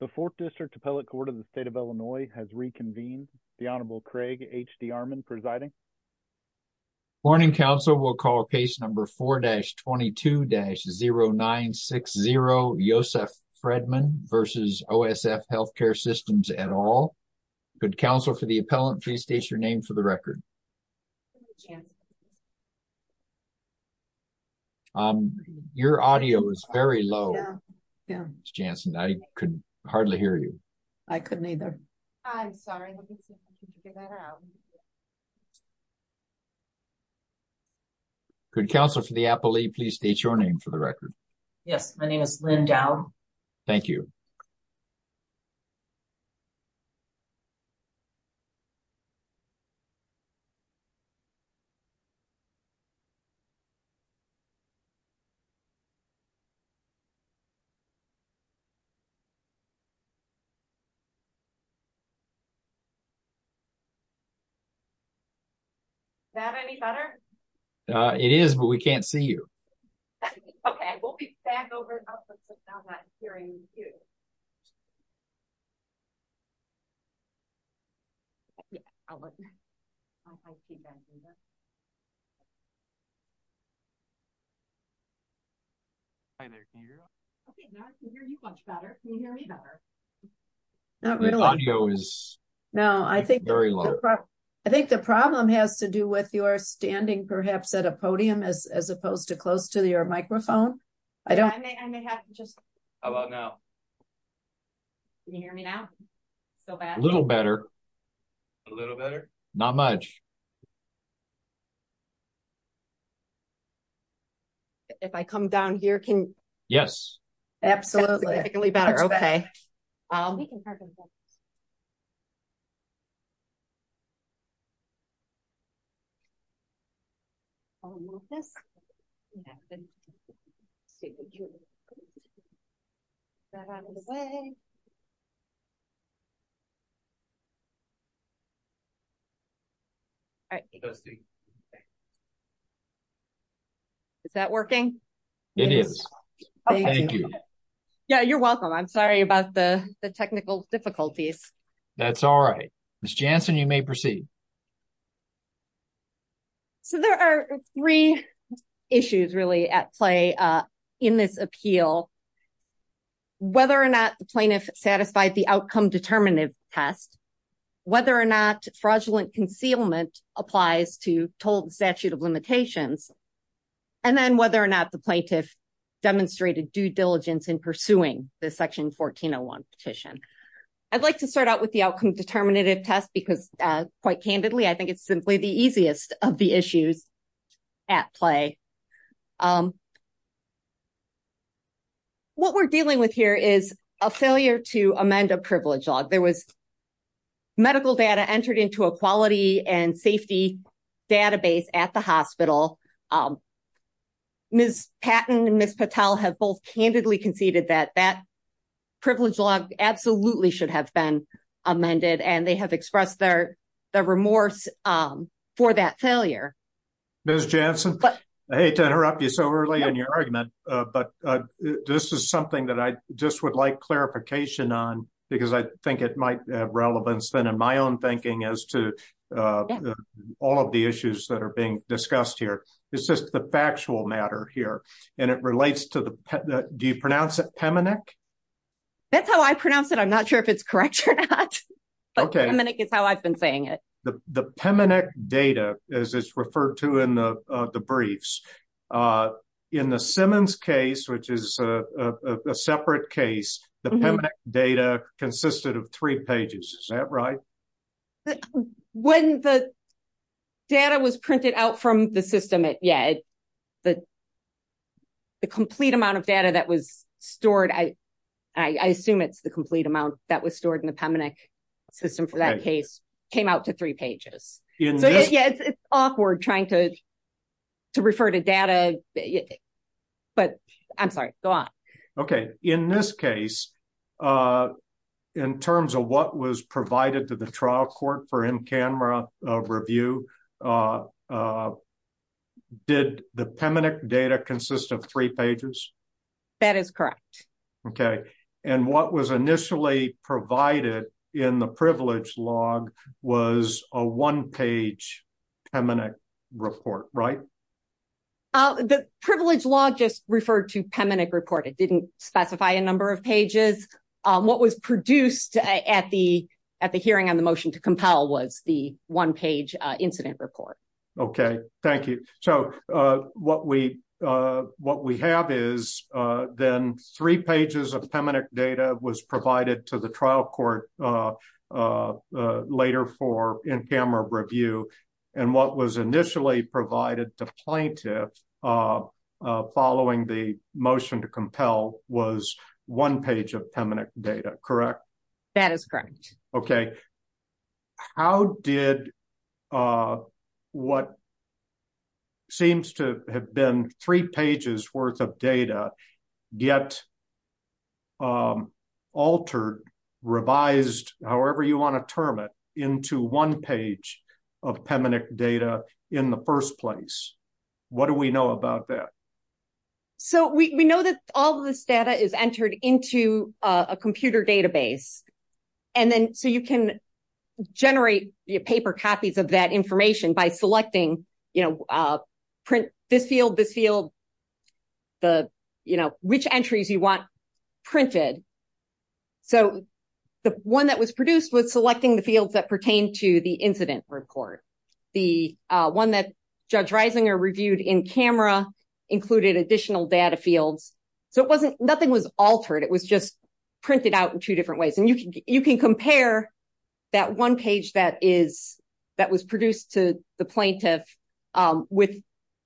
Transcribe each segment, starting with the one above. The 4th District Appellate Court of the State of Illinois has reconvened. The Honorable Craig H.D. Armon presiding. Morning, counsel. We'll call case number 4-22-0960 Yosef Fredman v. OSF Healthcare Systems et al. Good counsel for the appellant, please state your name for the record. Jansen. Your audio is very low, Ms. Jansen. I could hardly hear you. I couldn't either. I'm sorry. Good counsel for the appellee, please state your name for the record. Yes, my name is Lynn Dow. Thank you. Is that any better? It is, but we can't see you. Okay, we'll be back over after hearing you. The audio is very low. I think the problem has to do with your standing, perhaps, at a podium as opposed to close to your microphone. How about now? Can you hear me now? A little better. A little better? Not much. Okay. If I come down here, can you hear me? Yes. That's significantly better. Okay. Is that working? It is. Thank you. Yeah, you're welcome. I'm sorry about the technical difficulties. That's all right. Ms. Jansen, you may proceed. So, there are three issues really at play in this appeal. Whether or not the plaintiff satisfied the outcome determinative test, whether or not fraudulent concealment applies to told statute of limitations, and then whether or not the plaintiff demonstrated due diligence in pursuing the section 1401 petition. I'd like to start out with the outcome determinative test because, quite candidly, I think it's simply the easiest of the issues at play. What we're dealing with here is a failure to amend a privilege law. There was medical data entered into a quality and safety database at the hospital. Ms. Patton and Ms. Patel have both candidly conceded that that privilege law absolutely should have been amended, and they have expressed their remorse for that failure. Ms. Jansen, I hate to interrupt you so early in your argument, but this is something that I just would like clarification on because I think it might have relevance, then, in my own thinking as to all of the issues that are being discussed here. It's just the factual matter here, and it relates to the… Do you pronounce it Peminec? That's how I pronounce it. I'm not sure if it's correct or not, but Peminec is how I've been saying it. The Peminec data, as it's referred to in the briefs, in the Simmons case, which is a separate case, the Peminec data consisted of three pages. Is that right? When the data was printed out from the system, yeah, the complete amount of data that was stored, I assume it's the complete amount that was stored in the Peminec system for that case, came out to three pages. Yeah, it's awkward trying to refer to data, but I'm sorry, go on. Okay. In this case, in terms of what was provided to the trial court for in-camera review, did the Peminec data consist of three pages? That is correct. Okay. And what was initially provided in the privilege log was a one-page Peminec report, right? Oh, the privilege log just referred to Peminec report. It didn't specify a number of pages. What was produced at the hearing on the motion to compel was the one-page incident report. Okay. Thank you. So what we have is then three pages of Peminec data was provided to the trial court later for in-camera review. And what was initially provided to plaintiff following the motion to compel was one page of Peminec data, correct? That is correct. Okay. How did what seems to have been three pages worth of data get altered, revised, however you want to term it, into one page of Peminec data in the first place? What do we know about that? So we know that all of this data is entered into a computer database. And then so you can generate paper copies of that information by selecting, you know, print this field, this field, which entries you want printed. So the one that was produced was selecting the fields that pertain to the incident report. The one that Judge Reisinger reviewed in camera included additional data fields. So it wasn't, nothing was altered. It was just printed out in two different ways. And you can compare that one page that is, that was produced to the plaintiff with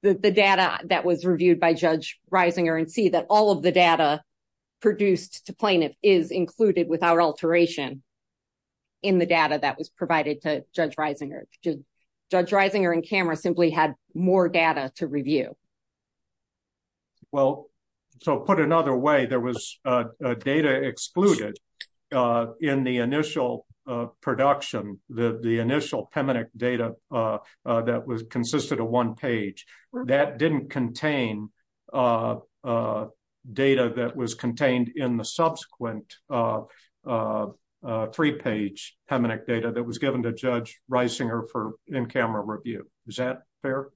the data that was reviewed by Judge Reisinger and see that all of the data produced to plaintiff is included without alteration in the data that was provided to Judge Reisinger. Judge Reisinger in camera simply had more data to review. Well, so put another way, there was data excluded in the initial production, the initial Peminec data that was consisted of one page. That didn't contain data that was contained in the subsequent three-page Peminec data that was given to Judge Reisinger for in-camera review. Is that fair?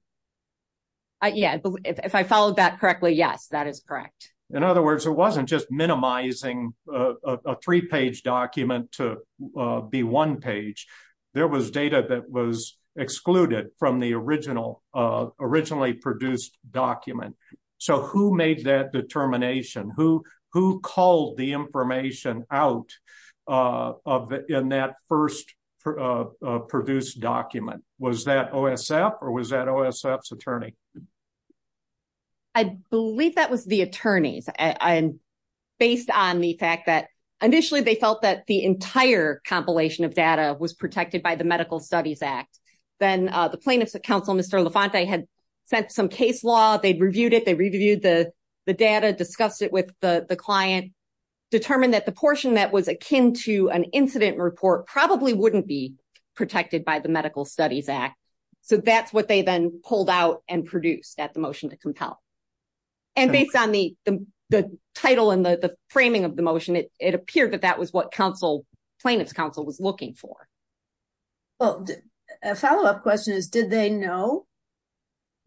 Yeah, if I followed that correctly, yes, that is correct. In other words, it wasn't just minimizing a three-page document to be one page. There was data that was excluded from the originally produced document. So who made that determination? Who called the information out in that first produced document? Was that OSF or was that OSF's attorney? I believe that was the attorney's based on the fact that initially they felt that the entire compilation of data was protected by the Medical Studies Act. Then the plaintiff's counsel, Mr. LaFonte, had sent some case law, they reviewed it, they reviewed the data, discussed it with the client, determined that the portion that was akin to an incident report probably wouldn't be protected by the Medical Studies Act. So that's what they then pulled out and produced at the motion to compel. And based on the title and the framing of the motion, it appeared that that was what plaintiff's counsel was looking for. Well, a follow-up question is, did they know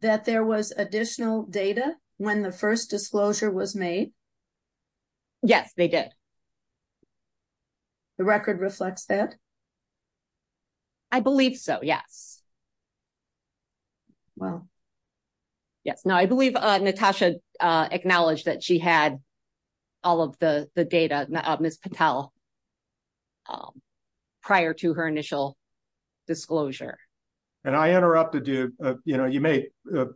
that there was additional data when the first disclosure was made? Yes, they did. The record reflects that? I believe so, yes. Well, yes. No, I believe Natasha acknowledged that she had all of the data, Ms. Patel, prior to her initial disclosure. And I interrupted you, you may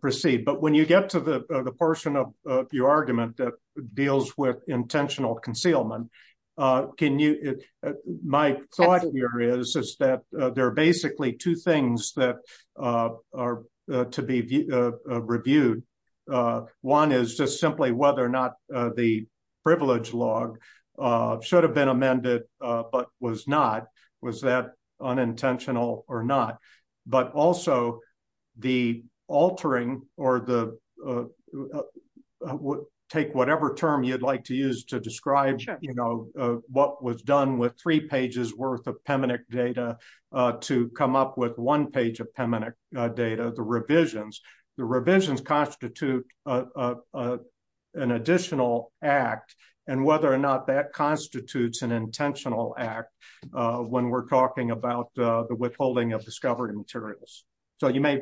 proceed, but when you get to the portion of your argument that deals with intentional concealment, my thought here is that there are basically two things that are to be reviewed. One is just simply whether or not the privilege log should have been amended, but was not. Was that unintentional or not? But also, the altering, or take whatever term you'd like to use to describe what was done with three pages worth of PEMINIC data to come up with one page of PEMINIC data, the revisions. The revisions constitute an additional act, and whether or not that constitutes an intentional act when we're talking about the withholding of discovered materials. So you may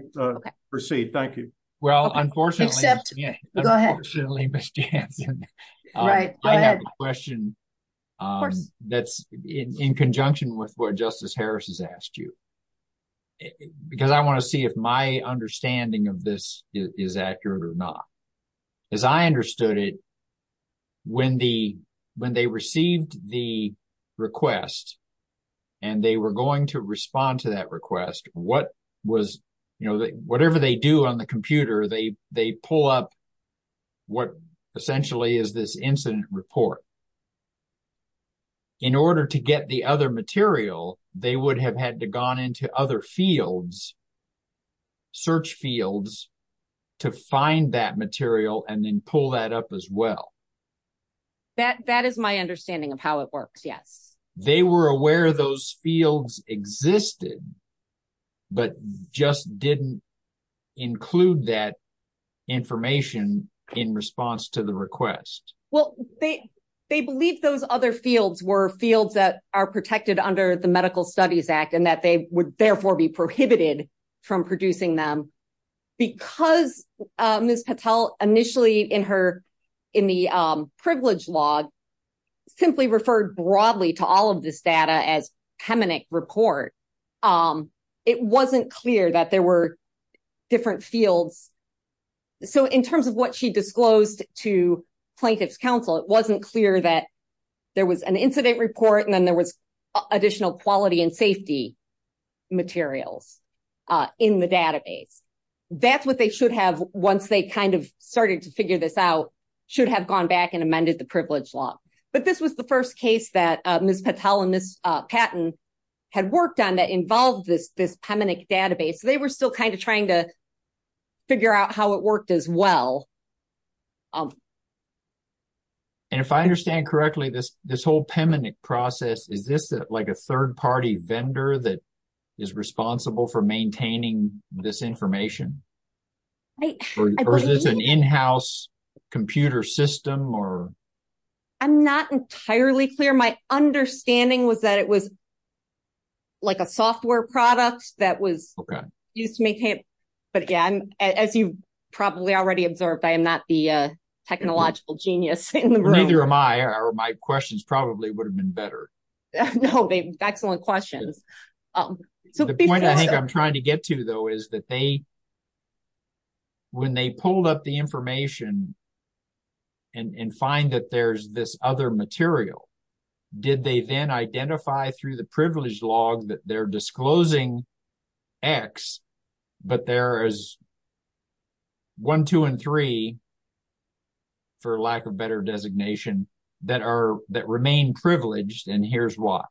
proceed. Thank you. Well, unfortunately, Ms. Jansen, I have a question that's in conjunction with what Justice Harris has asked you, because I want to see if my understanding of this is accurate or not. As I understood it, when they received the request and they were going to respond to that request, whatever they do on the computer, they pull up what essentially is this incident report. In order to get the other material, they would have had to gone into other fields, search fields, to find that material and then pull that up as well. That is my understanding of how it works, yes. They were aware those fields existed, but just didn't include that information in response to the request. Well, they believe those other fields were fields that are protected under the Medical Studies Act and that they would therefore be prohibited from producing them. Because Ms. Patel, initially in the privilege log, simply referred broadly to all of this data as heminec report, it wasn't clear that there were different fields. So in terms of what she disclosed to plaintiff's counsel, it wasn't clear that there was an incident report and then there was additional quality and safety materials in the database. That's what they should have once they kind of started to figure this out, should have gone back and amended the privilege log. But this was the first case that Ms. Patel and Ms. Patton had worked on that involved this heminec database. They were still kind of trying to figure out how it worked as well. And if I understand correctly, this whole heminec process, is this like a third party vendor that is responsible for maintaining this information? Or is this an in-house computer system? I'm not entirely clear. My understanding was that it was like a software product that was used to make heminec. But yeah, as you've probably already observed, I am not the technological genius in the room. Neither am I, or my questions probably would have been better. No, excellent questions. The point I think I'm trying to get to, though, is that they, when they pulled up the information and find that there's this other material, did they then identify through the privilege log that they're disclosing X, but there is 1, 2, and 3, for lack of better designation, that remain privileged, and here's why.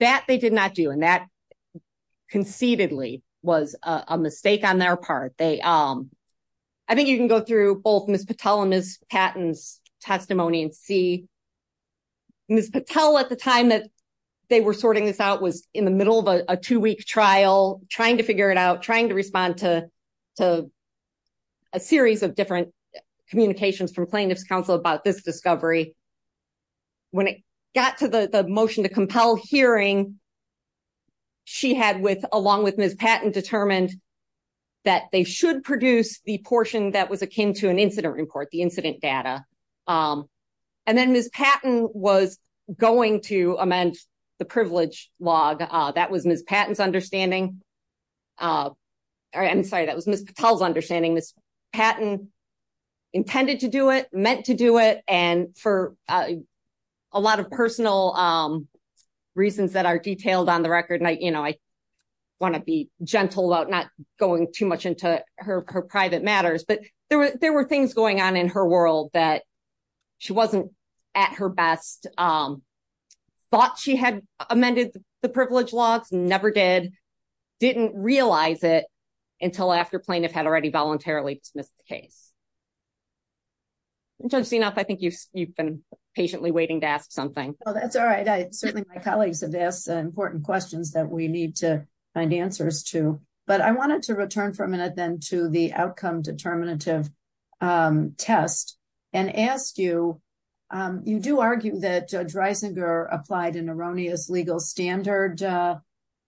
That they did not do, and that conceitedly was a mistake on their part. I think you can go through both Ms. Patel and Ms. Patton's testimony and see. Ms. Patel, at the time that they were sorting this out, was in the middle of a two-week trial, trying to figure it out, trying to respond to a series of different communications from plaintiff's counsel about this discovery. When it got to the motion to compel hearing, she had, along with Ms. Patton, determined that they should produce the portion that was akin to an incident report, the incident data. And then Ms. Patton was going to amend the privilege log. That was Ms. Patton's understanding. I'm sorry, that was Ms. Patel's understanding. Ms. Patton intended to do it, meant to do it, and for a lot of personal reasons that are detailed on the record, and I want to be gentle about not going too much into her private matters, but there were things going on in her world that she wasn't at her best, thought she had amended the privilege logs, never did. Didn't realize it until after plaintiff had already voluntarily dismissed the case. Judge Sienoff, I think you've been patiently waiting to ask something. Well, that's all right. Certainly, my colleagues have asked important questions that we need to find answers to. But I wanted to return for a minute then to the outcome determinative test and ask you, you do argue that Judge Reisinger applied an erroneous legal standard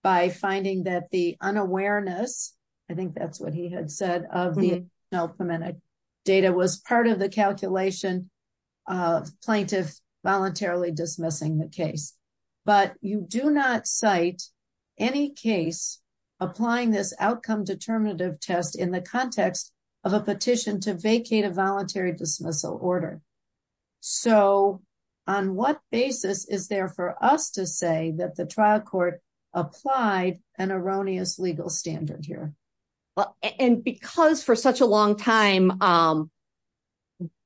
by finding that the unawareness, I think that's what he had said, of the data was part of the calculation of plaintiff voluntarily dismissing the case. But you do not cite any case applying this outcome determinative test in the context of a petition to vacate a court, applied an erroneous legal standard here. And because for such a long time,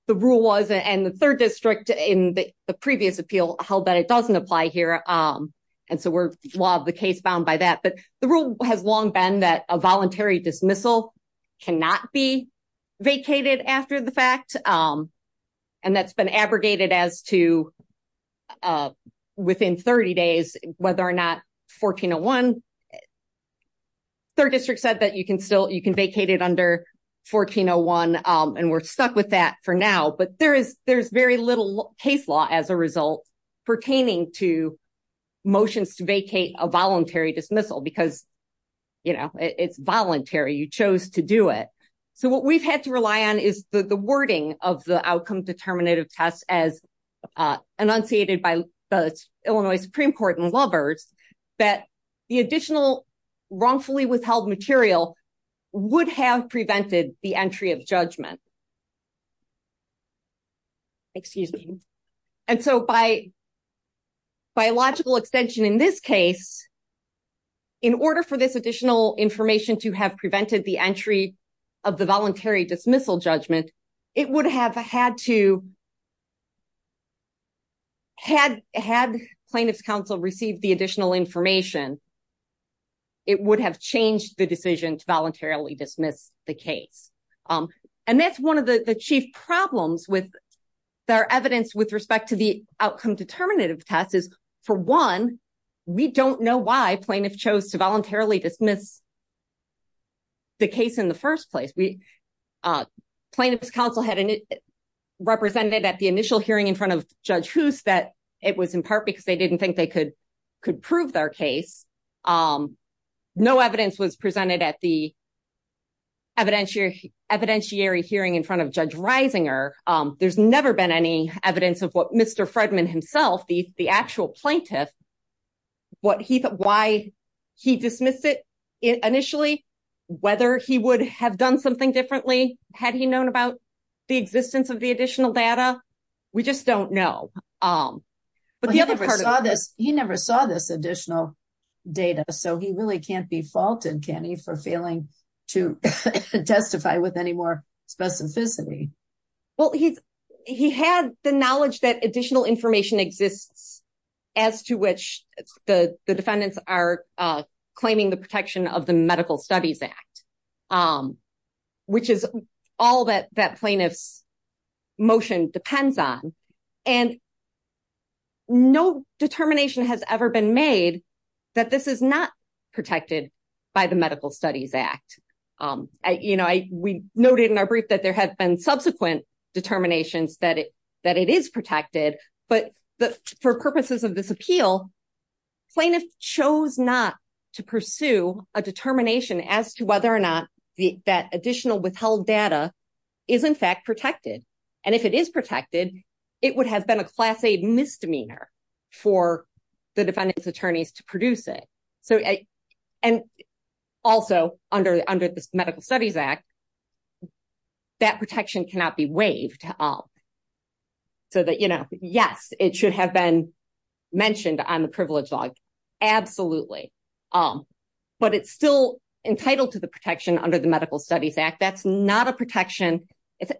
the rule was, and the third district in the previous appeal held that it doesn't apply here. And so we're, well, the case bound by that. But the rule has long been that a voluntary dismissal cannot be vacated after the fact. And that's been abrogated as to within 30 days, whether or not 1401, third district said that you can still, you can vacate it under 1401. And we're stuck with that for now. But there's very little case law as a result pertaining to motions to vacate a voluntary dismissal because, you know, it's voluntary, you chose to do it. So what we've had to rely on is the wording of the outcome determinative test as enunciated by the Illinois Supreme Court and Lubbers, that the additional wrongfully withheld material would have prevented the entry of judgment. Excuse me. And so by biological extension in this case, in order for this additional information to have prevented the entry of the voluntary dismissal judgment, it would have had to, had plaintiff's counsel received the additional information, it would have changed the decision to voluntarily dismiss the case. And that's one of the chief problems with their evidence with respect to the outcome determinative test is for one, we don't know why plaintiff chose to voluntarily dismiss the case in the first place. We plaintiff's counsel had represented at the initial hearing in front of Judge Hoos that it was in part because they didn't think they could prove their case. No evidence was presented at the evidentiary hearing in front of Judge Reisinger. There's never been any evidence of Mr. Fredman himself, the actual plaintiff, why he dismissed it initially, whether he would have done something differently. Had he known about the existence of the additional data? We just don't know. But the other part of- He never saw this additional data, so he really can't be faulted, can he, for failing to testify with any more specificity. Well, he had the knowledge that additional information exists as to which the defendants are claiming the protection of the Medical Studies Act, which is all that plaintiff's motion depends on. And no determination has ever been made that this is not protected by the Medical Studies Act. We noted in our brief that there have been subsequent determinations that it is protected, but for purposes of this appeal, plaintiff chose not to pursue a determination as to whether or not that additional withheld data is in fact protected. And if it is protected, it would have been a class-A misdemeanor for the cannot be waived. So that, you know, yes, it should have been mentioned on the privilege log, absolutely. But it's still entitled to the protection under the Medical Studies Act. That's not a protection. It's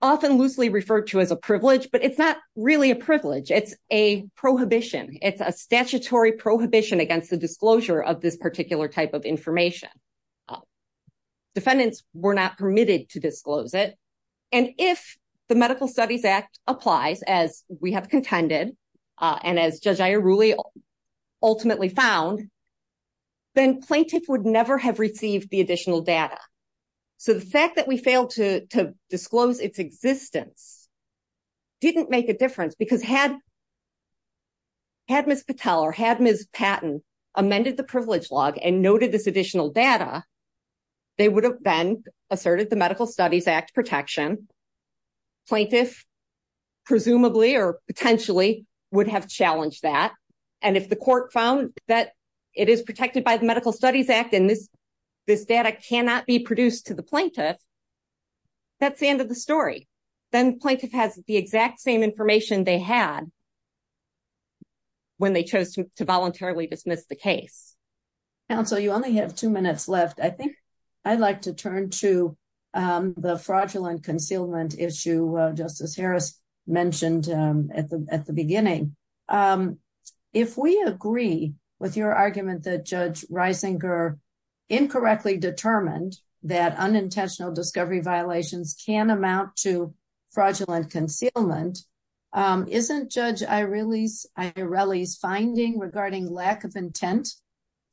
often loosely referred to as a privilege, but it's not really a privilege. It's a prohibition. It's a statutory prohibition against the disclosure of this particular type of information. Defendants were not permitted to disclose it. And if the Medical Studies Act applies, as we have contended, and as Judge Ayer-Ruley ultimately found, then plaintiff would never have received the additional data. So the fact that we failed to disclose its existence didn't make a difference because had Ms. Patel or had Ms. Patton amended the privilege log and noted this additional data, they would have been asserted the Medical Studies Act protection. Plaintiff presumably or potentially would have challenged that. And if the court found that it is protected by the Medical Studies Act and this data cannot be produced to the plaintiff, that's the end of the story. Then plaintiff has the exact same information they had when they chose to voluntarily dismiss the case. Counsel, you only have two minutes left. I think I'd like to turn to the fraudulent concealment issue Justice Harris mentioned at the beginning. If we agree with your argument that Judge Reisinger incorrectly determined that unintentional discovery violations can amount to concealment, isn't Judge Ayer-Ruley's finding regarding lack of intent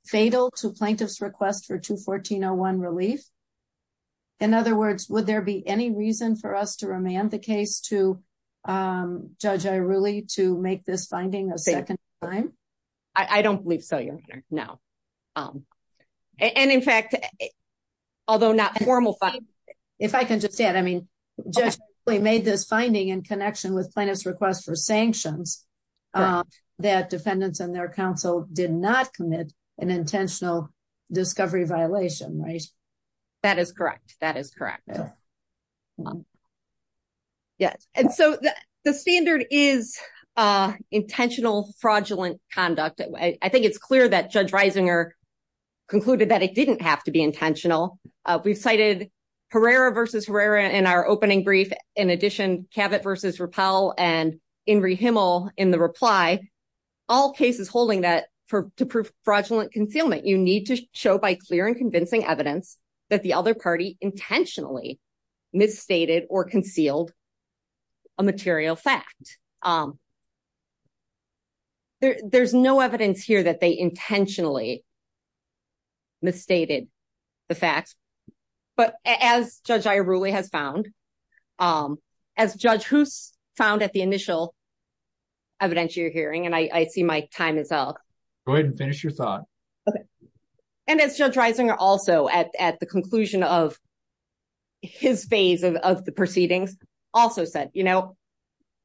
fatal to plaintiff's request for 214-01 relief? In other words, would there be any reason for us to remand the case to Judge Ayer-Ruley to make this finding a second time? I don't believe so, Your Honor, no. And in connection with plaintiff's request for sanctions that defendants and their counsel did not commit an intentional discovery violation, right? That is correct. That is correct. Yes. And so the standard is intentional fraudulent conduct. I think it's clear that Judge Reisinger concluded that it didn't have to be intentional. We've cited Herrera versus Herrera in our opening brief. In addition, Cavett versus Rappel and Inri Himmel in the reply. All cases holding that to prove fraudulent concealment, you need to show by clear and convincing evidence that the other party intentionally misstated or concealed a material fact. There's no evidence here that they intentionally misstated the facts. But as Judge Ayer-Ruley has found, as Judge Hoos found at the initial evidentiary hearing, and I see my time is up. Go ahead and finish your thought. Okay. And as Judge Reisinger also at the conclusion of his phase of the proceedings also said, you know,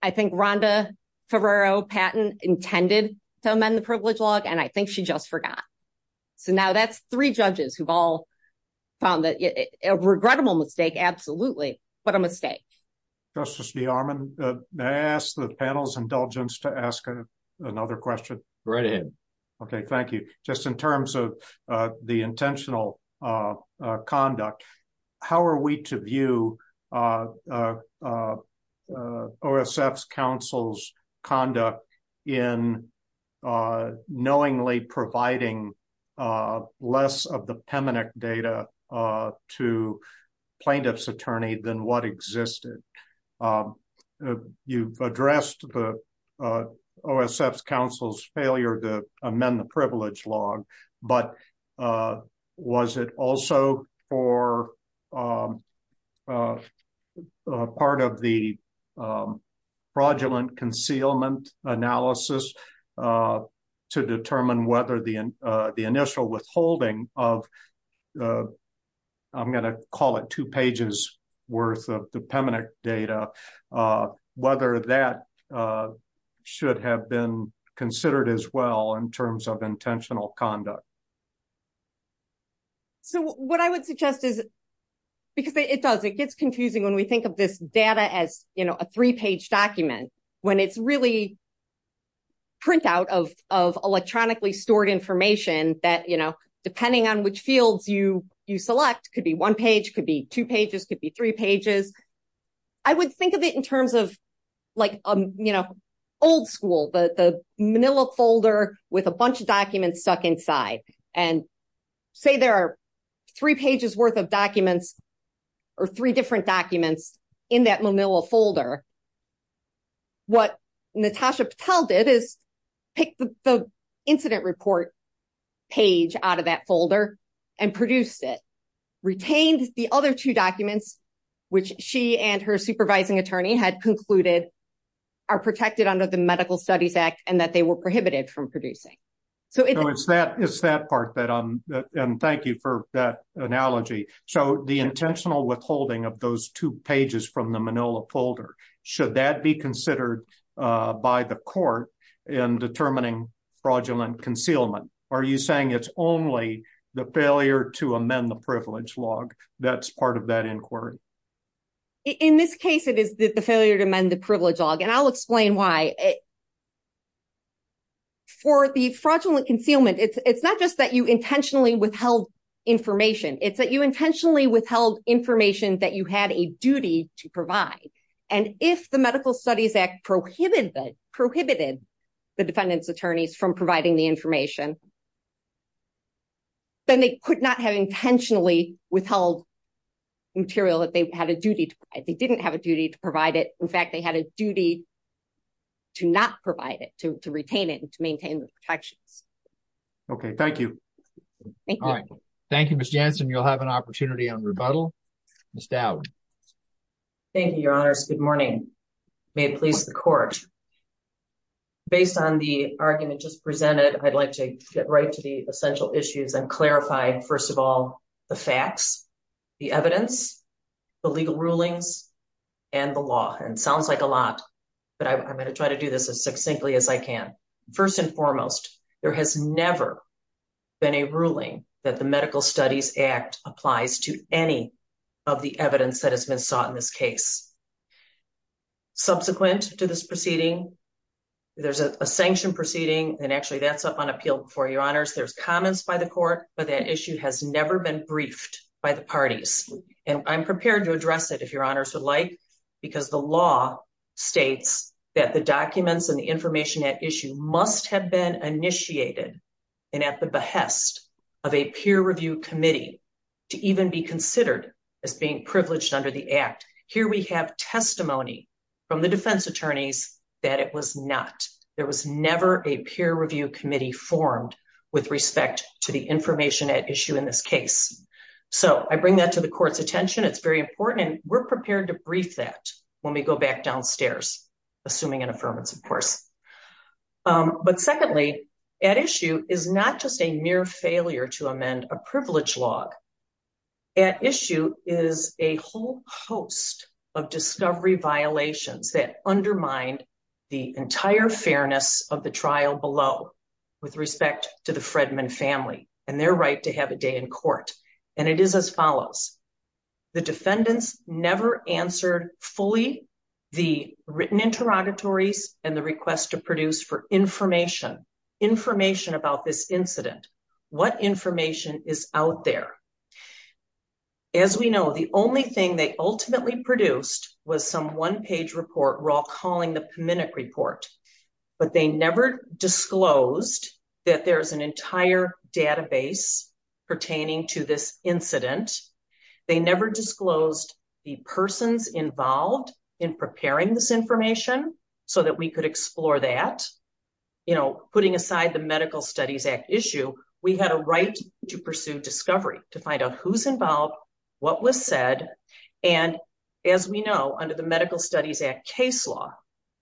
I think Rhonda Ferrero Patton intended to amend the privilege law and I think she just forgot. So now that's three judges who've all found that a regrettable mistake. Absolutely. What a mistake. Justice B. Armand, may I ask the panel's indulgence to ask another question? Right ahead. Okay. Thank you. Just in terms of the intentional conduct, how are we to view OSF's counsel's conduct in knowingly providing less of the PEMINEC data to plaintiff's attorney than what existed? You've addressed the OSF's counsel's failure to amend the privilege law, but was it also for part of the fraudulent concealment analysis to determine whether the initial withholding of the, I'm going to call it two pages worth of the PEMINEC data, whether that should have been considered as well in terms of intentional conduct? So what I would suggest is, because it does, it gets confusing when we think of this data as, you know, a three-page document, when it's really printout of electronically stored information that, you know, depending on which fields you select, could be one page, could be two pages, could be three pages. I would think of it in terms of like, you know, old school, the Manila folder with a bunch of documents stuck inside. And say there are three pages worth of documents or three different documents in that Manila folder. What Natasha Patel did is pick the page out of that folder and produced it, retained the other two documents, which she and her supervising attorney had concluded are protected under the Medical Studies Act and that they were prohibited from producing. So it's that part that I'm, and thank you for that analogy. So the intentional withholding of those two pages from the Manila folder, should that be considered by court in determining fraudulent concealment? Are you saying it's only the failure to amend the privilege log that's part of that inquiry? In this case, it is the failure to amend the privilege log, and I'll explain why. For the fraudulent concealment, it's not just that you intentionally withheld information, it's that you intentionally withheld information that you had a the defendant's attorneys from providing the information. Then they could not have intentionally withheld material that they had a duty to provide. They didn't have a duty to provide it. In fact, they had a duty to not provide it, to retain it and to maintain the protections. Okay, thank you. Thank you. All right. Thank you, Ms. Jansen. You'll have an opportunity on rebuttal. Ms. Dowd. Thank you, your honors. Good morning. May it please the court. Based on the argument just presented, I'd like to get right to the essential issues and clarify, first of all, the facts, the evidence, the legal rulings, and the law. And it sounds like a lot, but I'm going to try to do this as succinctly as I can. First and foremost, there has never been a ruling that the Medical Studies Act applies to any of the subsequent to this proceeding. There's a sanction proceeding, and actually that's up on appeal before your honors. There's comments by the court, but that issue has never been briefed by the parties. And I'm prepared to address it if your honors would like, because the law states that the documents and the information at issue must have been initiated and at the behest of a peer review committee to even be considered as being privileged under the act. Here we have testimony from the defense attorneys that it was not. There was never a peer review committee formed with respect to the information at issue in this case. So I bring that to the court's attention. It's very important, and we're prepared to brief that when we go back downstairs, assuming an affirmance, of course. But secondly, at issue is not just a mere failure to amend a privilege log. At issue is a whole host of discovery violations that undermine the entire fairness of the trial below with respect to the Fredman family and their right to have a day in court. And it is as follows. The defendants never answered fully the written interrogatories and the request to produce for information, information about this incident. What information is out there? As we know, the only thing they ultimately produced was some one-page report we're all calling the PMINIC report. But they never disclosed that there's an entire database pertaining to this incident. They never disclosed the persons involved in preparing this information so that we could explore that. You know, putting aside the Medical Studies Act issue, we had a right to pursue discovery, to find out who's involved, what was said. And as we know, under the Medical Studies Act case law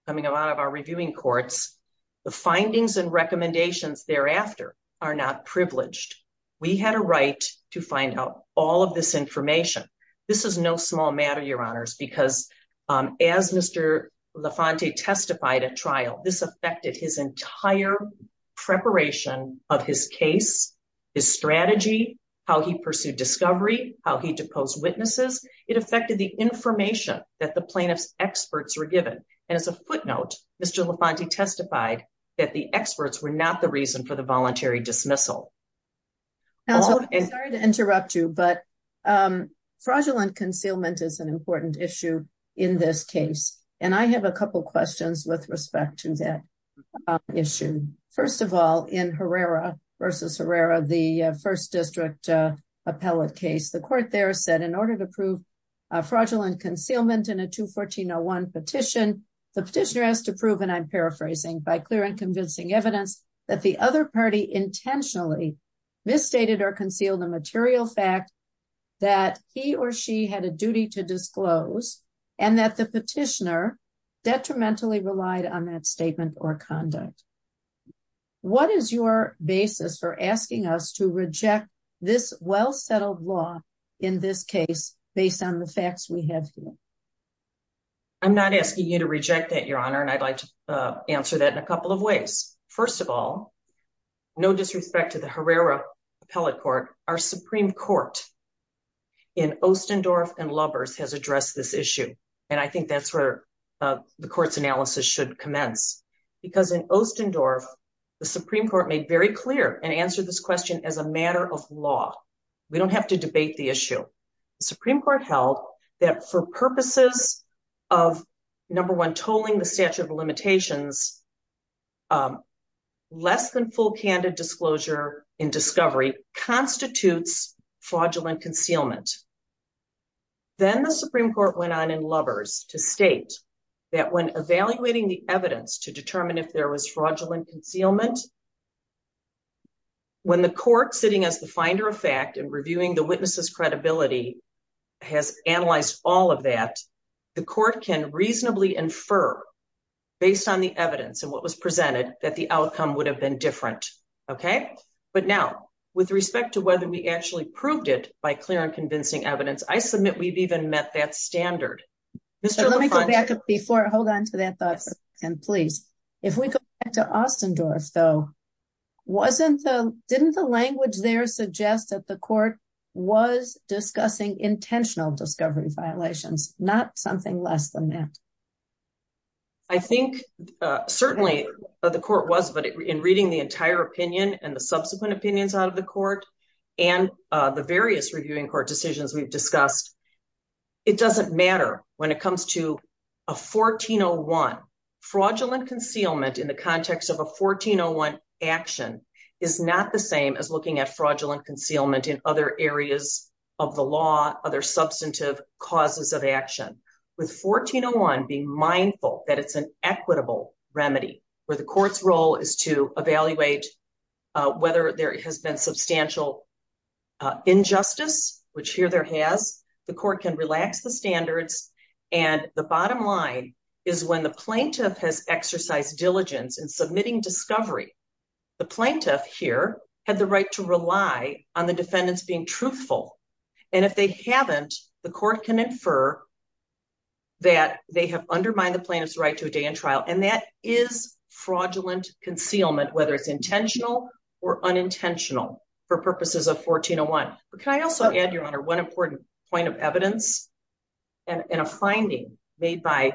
coming out of our reviewing courts, the findings and recommendations thereafter are not privileged. We had a right to find out all of this information. This is no small matter, Your Honors, because as Mr. LaFonte testified at trial, this affected his entire preparation of his case, his strategy, how he pursued discovery, how he deposed witnesses. It affected the information that the plaintiff's experts were given. And as a footnote, Mr. LaFonte testified that the experts were not the reason for the fraudulent concealment as an important issue in this case. And I have a couple questions with respect to that issue. First of all, in Herrera v. Herrera, the First District appellate case, the court there said in order to prove fraudulent concealment in a 214-01 petition, the petitioner has to prove, and I'm paraphrasing, by clear and convincing evidence that the other or she had a duty to disclose and that the petitioner detrimentally relied on that statement or conduct. What is your basis for asking us to reject this well-settled law in this case based on the facts we have here? I'm not asking you to reject that, Your Honor, and I'd like to answer that in a couple of ways. First of all, no disrespect to the Herrera appellate court, our Supreme Court in Ostendorf and Lubbers has addressed this issue, and I think that's where the court's analysis should commence. Because in Ostendorf, the Supreme Court made very clear and answered this question as a matter of law. We don't have to debate the issue. The Supreme Court held that for purposes of, number one, tolling the statute of limitations, less than full candid disclosure in discovery constitutes fraudulent concealment. Then the Supreme Court went on in Lubbers to state that when evaluating the evidence to determine if there was fraudulent concealment, when the court sitting as the finder of fact and reviewing the witness's credibility has analyzed all of that, the court can reasonably infer based on the evidence and what was presented that the outcome would have been different. But now, with respect to whether we actually proved it by clear and convincing evidence, I submit we've even met that standard. Let me go back before, hold on to that thought for a second, please. If we go back to Ostendorf though, didn't the language there suggest that the court was discussing intentional discovery violations, not something less than that? I think certainly the court was, but in reading the entire opinion and the subsequent opinions out of the court and the various reviewing court decisions we've discussed, it doesn't matter when it comes to a 1401. Fraudulent concealment in the context of a 1401 action is not the same as looking at fraudulent concealment in other areas of the law, other substantive causes of action. With 1401 being mindful that it's an equitable remedy where the court's role is to evaluate whether there has been substantial injustice, which here there has, the court can relax the standards. And the bottom line is when the plaintiff has exercised diligence in submitting discovery, the plaintiff here had the right to rely on the defendants being truthful. And if they haven't, the court can infer that they have undermined the plaintiff's right to a day in trial. And that is fraudulent concealment, whether it's intentional or unintentional for purposes of 1401. But can I also add your honor, one important point of evidence and a finding made by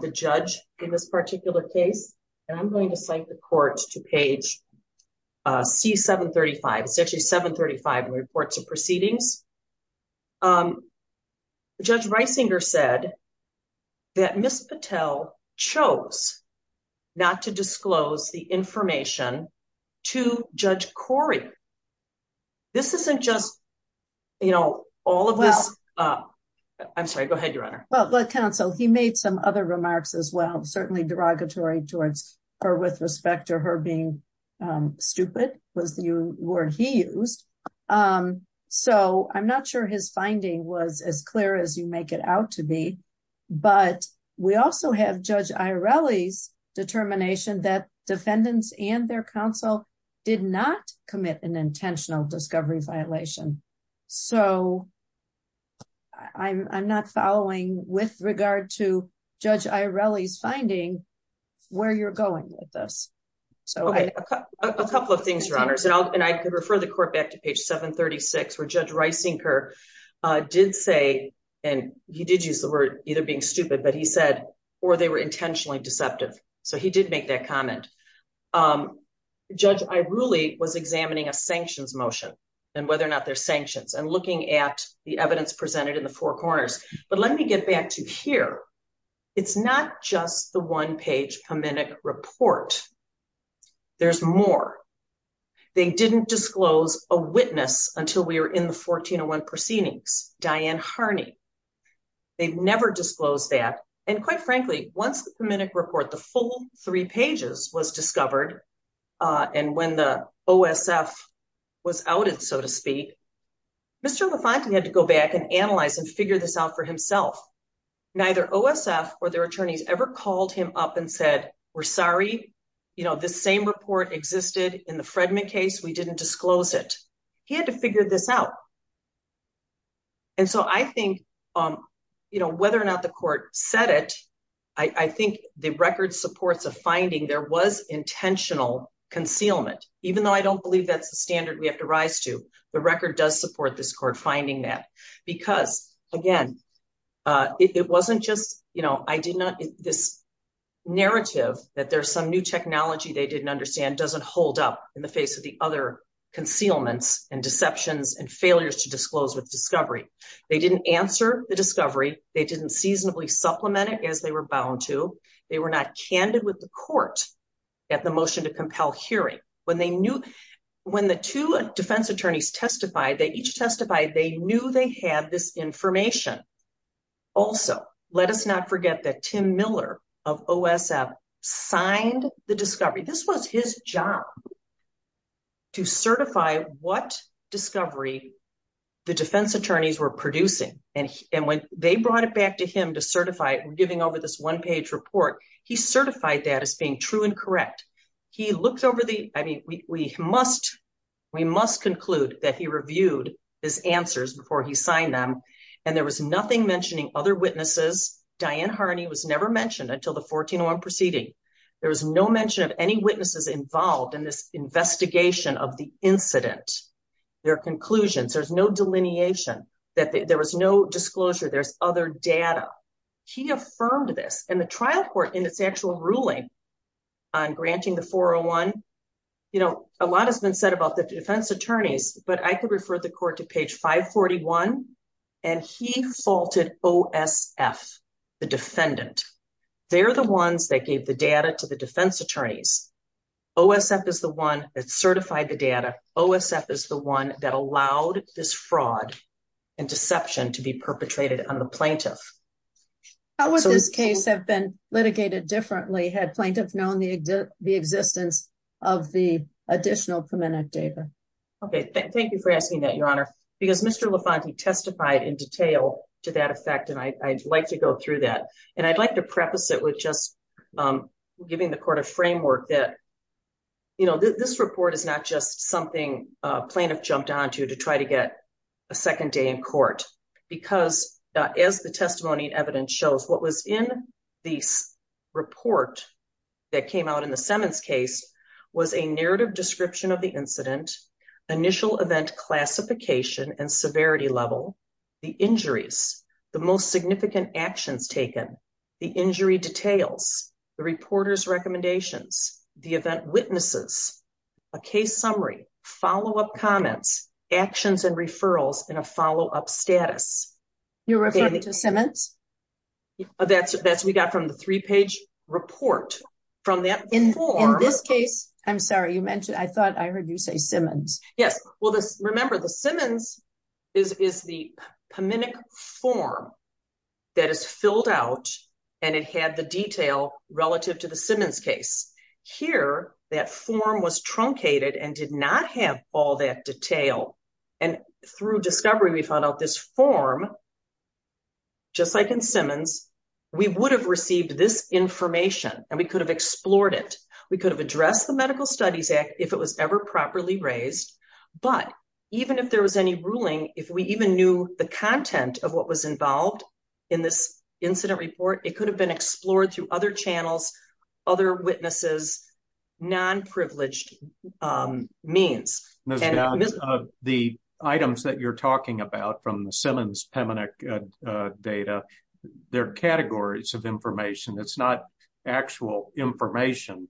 the judge in this particular case, and I'm going to cite the court to page C735, it's actually 735 in proceedings. Judge Reisinger said that Ms. Patel chose not to disclose the information to Judge Corey. This isn't just, you know, all of this. I'm sorry, go ahead, your honor. Well, but counsel, he made some other remarks as well, certainly derogatory towards her with respect to her being stupid was the word he used. So I'm not sure his finding was as clear as you make it out to be. But we also have Judge Airelli's determination that defendants and their counsel did not commit an intentional discovery violation. So I'm not following with regard to Judge Airelli's where you're going with this. So a couple of things, your honors, and I could refer the court back to page 736, where Judge Reisinger did say, and he did use the word either being stupid, but he said, or they were intentionally deceptive. So he did make that comment. Judge Airelli was examining a sanctions motion, and whether or not they're sanctions and looking at the evidence presented in the four corners. But let me get back to here. It's not just the 1401 page Pominic report. There's more. They didn't disclose a witness until we were in the 1401 proceedings, Diane Harney. They've never disclosed that. And quite frankly, once the Pominic report, the full three pages was discovered, and when the OSF was outed, so to speak, Mr. LaFontaine had to go back and analyze and figure this out for himself. Neither OSF or their attorneys ever called him up and said, we're sorry, you know, this same report existed in the Fredman case. We didn't disclose it. He had to figure this out. And so I think, you know, whether or not the court said it, I think the record supports a finding there was intentional concealment, even though I don't believe that's the standard we have to rise to. The record does support this court finding that. Because again, it wasn't just, you know, I did not, this narrative that there's some new technology they didn't understand doesn't hold up in the face of the other concealments and deceptions and failures to disclose with discovery. They didn't answer the discovery. They didn't seasonably supplement it as they were bound to. They were not candid with the court at the motion to compel hearing. When they knew, when the two defense attorneys testified, they each testified, they knew they had this information. Also, let us not forget that Tim Miller of OSF signed the discovery. This was his job to certify what discovery the defense attorneys were producing. And when they brought it back to him to certify, giving over this one page report, he certified that as being true and correct. He looked over the, I mean, we must, we must conclude that he reviewed his answers before he signed them. And there was nothing mentioning other witnesses. Diane Harney was never mentioned until the 1401 proceeding. There was no mention of any witnesses involved in this investigation of the incident, their conclusions. There's no delineation that there was no disclosure. There's data. He affirmed this and the trial court in its actual ruling on granting the 401, you know, a lot has been said about the defense attorneys, but I could refer the court to page 541 and he faulted OSF, the defendant. They're the ones that gave the data to the defense attorneys. OSF is the one that certified the data. OSF is the one that allowed this fraud and deception to be perpetrated on the plaintiff. How would this case have been litigated differently? Had plaintiffs known the, the existence of the additional permanent data? Okay. Thank you for asking that your honor, because Mr. Lafonte testified in detail to that effect. And I I'd like to go through that and I'd like to preface it with just giving the court a framework that, you know, this report is not just something plaintiff jumped onto to try to get a second day in court because as the testimony and evidence shows what was in this report that came out in the Simmons case was a narrative description of the incident, initial event classification and severity level, the injuries, the most significant actions taken, the injury details, the reporter's recommendations, the event witnesses, a case summary, follow-up comments, actions and referrals and a follow-up status. You're referring to Simmons? That's, that's, we got from the three-page report from that. In, in this case, I'm sorry, you mentioned, I thought I heard you say Simmons. Yes, well this, remember the Simmons is, is the PMINIC form that is filled out and it had the detail relative to the Simmons case. Here, that form was truncated and did not have all that detail and through discovery we found out this form, just like in Simmons, we would have received this information and we could have explored it. We could have addressed the Medical Studies Act if it was ever properly raised, but even if there was any ruling, if we even knew the content of what was involved in this incident report, it was non-privileged means. Ms. Dodds, the items that you're talking about from the Simmons PMINIC data, they're categories of information, it's not actual information.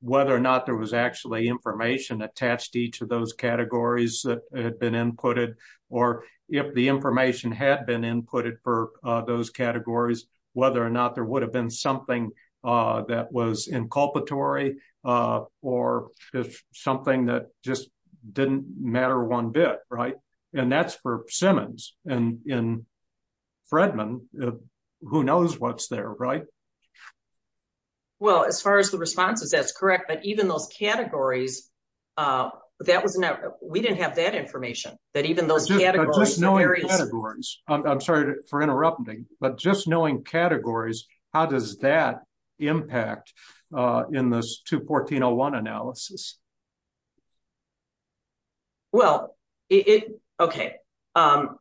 Whether or not there was actually information attached to each of those categories that had been inputted or if the information had been inputted for those categories, whether or not there would have been something that was inculpatory or something that just didn't matter one bit, right? And that's for Simmons and in Fredman, who knows what's there, right? Well, as far as the responses, that's correct, but even those categories, that was not, we didn't have that information, that even those impact in this 214.01 analysis. Well, it, okay, I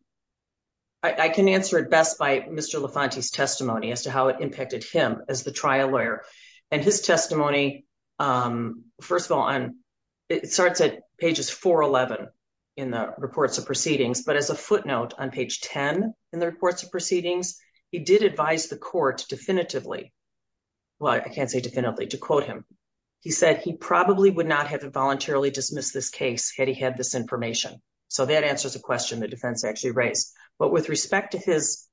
can answer it best by Mr. LaFonte's testimony as to how it impacted him as the trial lawyer and his testimony, first of all, it starts at pages 411 in the reports of proceedings, but as a footnote on page 10 in the reports of proceedings, he did advise the court definitively, well, I can't say definitively, to quote him. He said he probably would not have voluntarily dismissed this case had he had this information. So that answers a question the defense actually raised. But with respect to his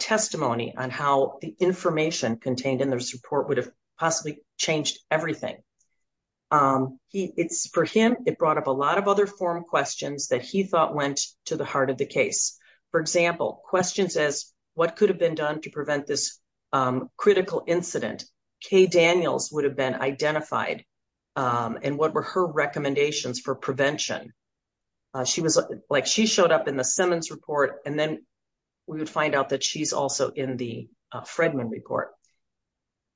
testimony on how the information contained in this report would have possibly changed everything, it's for him, it brought up a lot of other forum questions that he thought went to the heart of the case. For example, questions as what could have been done to prevent this critical incident? Kay Daniels would have been identified, and what were her recommendations for prevention? She was like, she showed up in the Simmons report, and then we would find out that she's also in the Fredman report.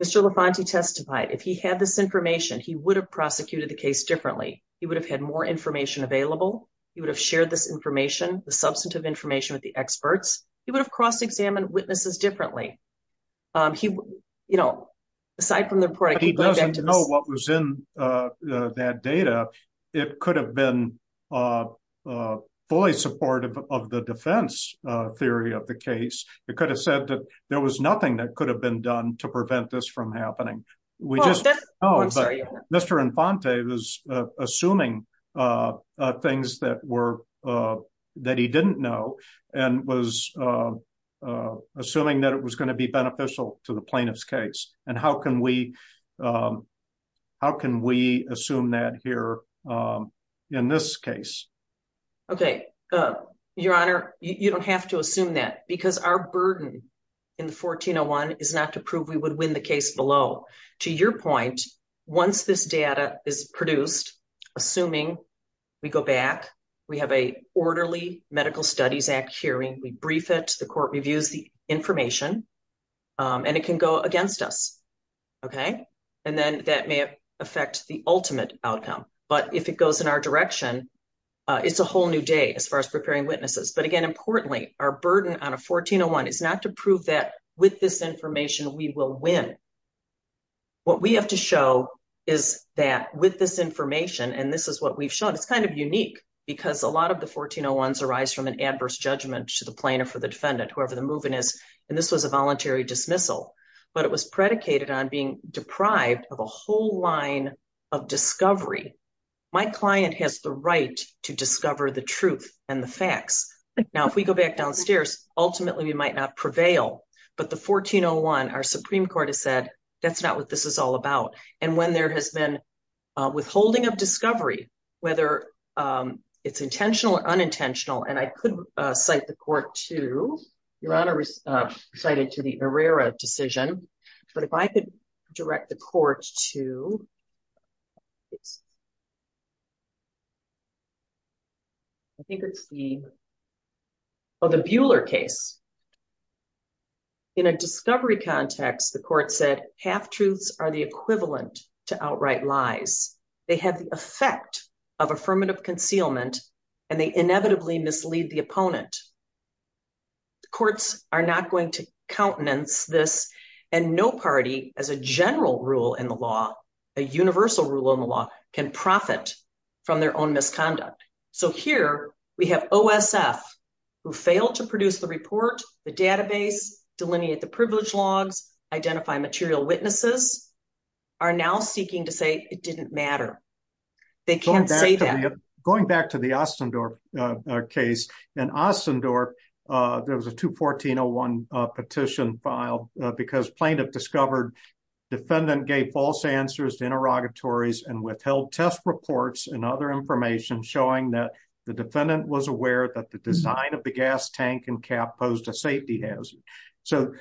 Mr. LaFonte testified if he had this information, he would have prosecuted the case differently. He would have had more information available. He would have shared this information, the substantive information with the experts. He would have cross-examined witnesses differently. Aside from the report, he doesn't know what was in that data. It could have been fully supportive of the defense theory of the case. It could have said that there was nothing that could have been done to prevent this from happening. We just know, but Mr. LaFonte was assuming things that he didn't know, and was assuming that it was going to be beneficial to the plaintiff's case. How can we assume that here in this case? Your Honor, you don't have to assume that, because our burden in the 1401 is not to prove we would win the case below. To your point, once this data is produced, assuming we go back, we have an orderly Medical Studies Act hearing, we brief it, the court reviews the information, and it can go against us. That may affect the ultimate outcome, but if it goes in our direction, it's a whole new day as far as preparing witnesses. Again, our burden on a 1401 is not to prove that with this information we will win. What we have to show is that with this information, and this is what we've shown, it's kind of unique because a lot of the 1401s arise from an adverse judgment to the plaintiff or the defendant, whoever the movement is, and this was a voluntary dismissal. But it was predicated on being deprived of a whole line of discovery. My client has the right to discover the truth and the facts. Now, if we go back downstairs, ultimately we might not prevail, but the 1401, our Supreme Court has said, that's not what this is all about. And when there has been withholding of discovery, whether it's intentional or unintentional, and I could cite the court to, Your Honor recited to the Herrera decision, but if I could direct the court to, I think it's the, oh, the Buehler case. In a discovery context, the court said, half-truths are the equivalent to outright lies. They have the effect of affirmative concealment, and they inevitably mislead the opponent. The courts are not going to countenance this, and no party, as a general rule in the law, a universal rule in the law, can profit from their own misconduct. So here we have OSF, who failed to produce the report, the database, delineate the privilege logs, identify material witnesses, are now seeking to say it didn't matter. They can't say that. Going back to the Ostendorp case, in Ostendorp, there was a 214-01 petition filed because plaintiff discovered defendant gave false answers to interrogatories and withheld test reports and other information showing that the defendant was aware that the design of the gas tank and cap posed a safety hazard. So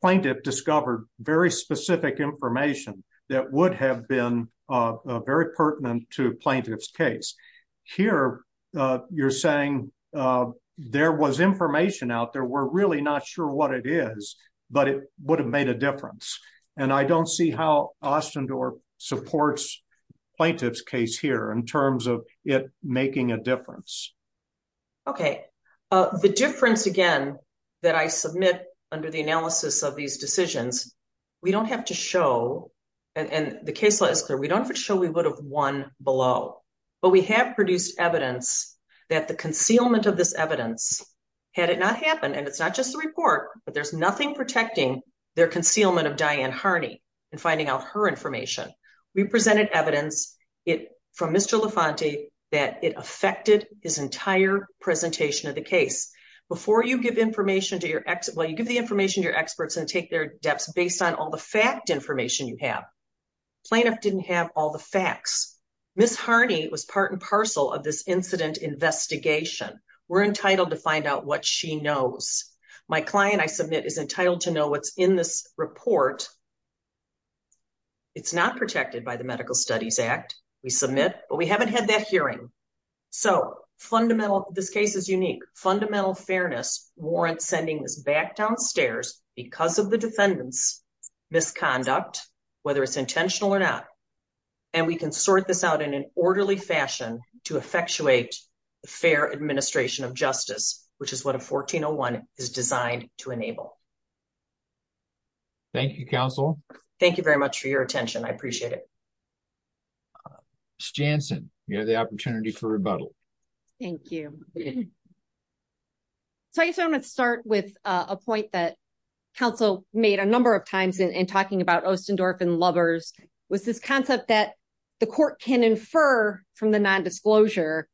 plaintiff discovered very specific information that would have been very pertinent to a plaintiff's case. Here, you're saying there was information out there. We're really not sure what it is, but it would have made a difference, and I don't see how Ostendorp supports plaintiff's case here in terms of it making a difference. Okay. The difference, again, that I submit under the analysis of these decisions, we don't have to show, and the case law is clear, we don't have to show we would have won below, but we have produced evidence that the concealment of this evidence, had it not happened, and it's not just the report, but there's nothing protecting their concealment of Diane Harney and finding out her information. We presented evidence from Mr. LaFonte that it affected his entire presentation of the case. Before you give the information to your experts and take their depths based on all the fact information you have, plaintiff didn't have all the facts. Ms. Harney was part and parcel of this incident investigation. We're entitled to find out what she knows. My client, I submit, is entitled to know what's in this report. It's not protected by the Medical Studies Act, we submit, but we haven't had that hearing. So, fundamental, this case is unique. Fundamental fairness warrants sending this back downstairs because of the we can sort this out in an orderly fashion to effectuate the fair administration of justice, which is what a 1401 is designed to enable. Thank you, counsel. Thank you very much for your attention. I appreciate it. Ms. Jansen, you have the opportunity for rebuttal. Thank you. So, I guess I want to start with a point that counsel made a number of times in talking about the court can infer from the non-disclosure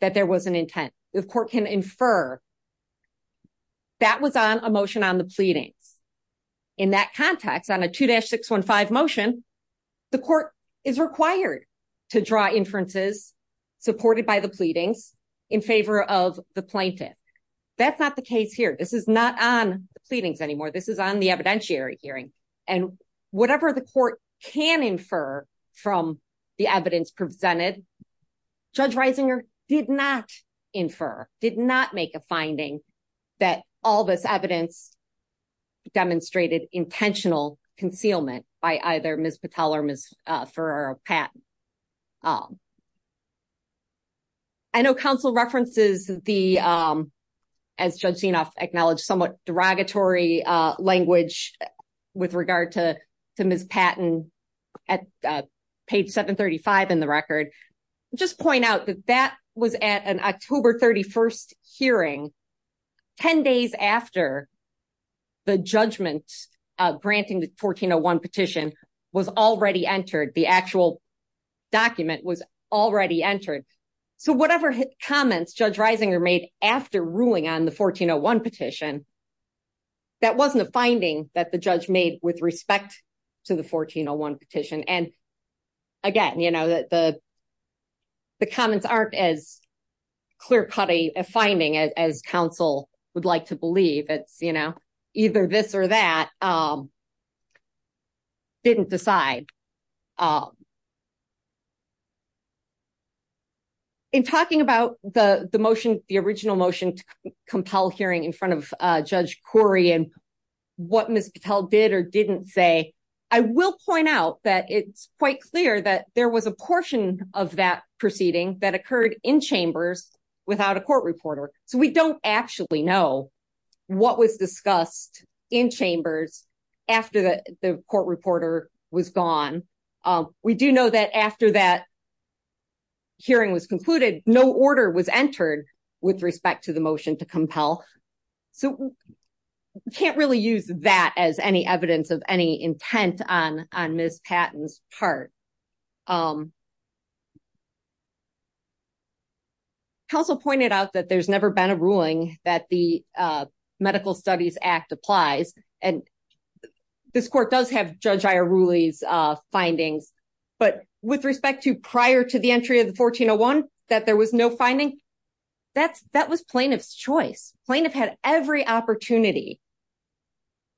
that there was an intent. The court can infer that was on a motion on the pleadings. In that context, on a 2-615 motion, the court is required to draw inferences supported by the pleadings in favor of the plaintiff. That's not the case here. This is not on the pleadings anymore. This is on the evidentiary hearing. And whatever the court can infer from the evidence presented, Judge Reisinger did not infer, did not make a finding that all this evidence demonstrated intentional concealment by either Ms. Patel or Ms. Ferrer or Pat. I know counsel references the, as Judge Sienoff acknowledged, somewhat derogatory language with regard to Ms. Patton at page 735 in the record. Just point out that that was at an October 31st hearing, 10 days after the judgment granting the 1401 petition was already entered, the actual after ruling on the 1401 petition. That wasn't a finding that the judge made with respect to the 1401 petition. And again, the comments aren't as clear-cut a finding as counsel would like to believe. It's either this or that, didn't decide. In talking about the motion, the original motion to compel hearing in front of Judge Corey and what Ms. Patel did or didn't say, I will point out that it's quite clear that there was a portion of that proceeding that occurred in chambers without a court reporter. So we don't actually know what was discussed in chambers after the court reporter was gone. We do know that after that hearing was concluded, no order was entered with respect to the motion to compel. So we can't really use that as any evidence of any intent on Ms. Patton's part. Counsel pointed out that there's never been a ruling that the Medical Studies Act applies, and this court does have Judge Iorulli's findings, but with respect to prior to the entry of the 1401, that there was no finding, that was plaintiff's choice. Plaintiff had every opportunity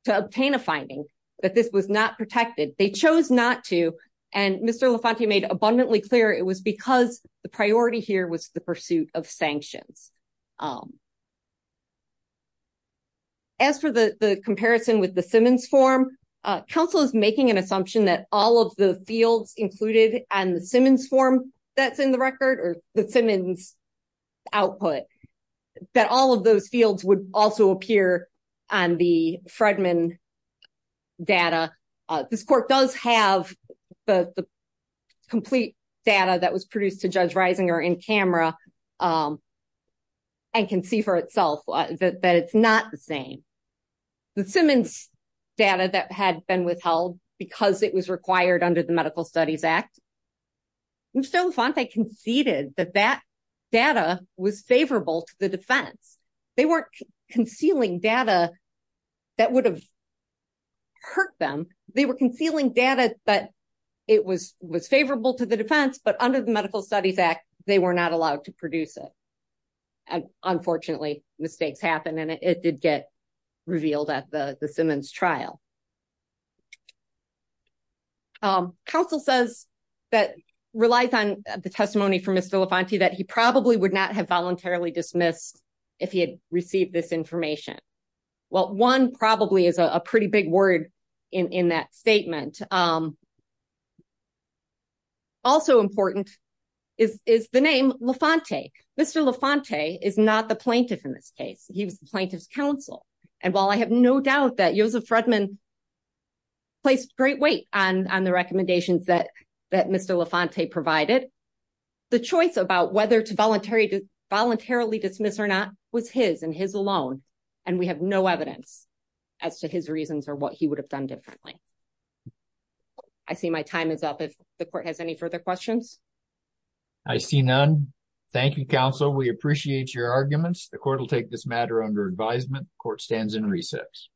to obtain a finding, but this was not protected. They chose not to, and Mr. LaFontaine made abundantly clear it was because the priority here was the pursuit of sanctions. As for the comparison with the Simmons form, counsel is making an assumption that all of the fields included on the Simmons form that's in the record or the Simmons output, that all of the complete data that was produced to Judge Risinger in camera and can see for itself that it's not the same. The Simmons data that had been withheld because it was required under the Medical Studies Act, Mr. LaFontaine conceded that that data was favorable to the defense. They weren't concealing data that would have hurt them. They were concealing data that it was favorable to the defense, but under the Medical Studies Act, they were not allowed to produce it. Unfortunately, mistakes happen, and it did get revealed at the Simmons trial. Counsel says that relies on the testimony from Mr. LaFontaine that he probably would not have received this information. Well, one probably is a pretty big word in that statement. Also important is the name LaFontaine. Mr. LaFontaine is not the plaintiff in this case. He was the plaintiff's counsel. While I have no doubt that Joseph Fredman placed great weight on the recommendations that Mr. LaFontaine provided, the choice about whether to voluntarily dismiss or not was his and his alone, and we have no evidence as to his reasons or what he would have done differently. I see my time is up. If the court has any further questions? I see none. Thank you, counsel. We appreciate your arguments. The court will take this matter under advisement. The court stands in recess.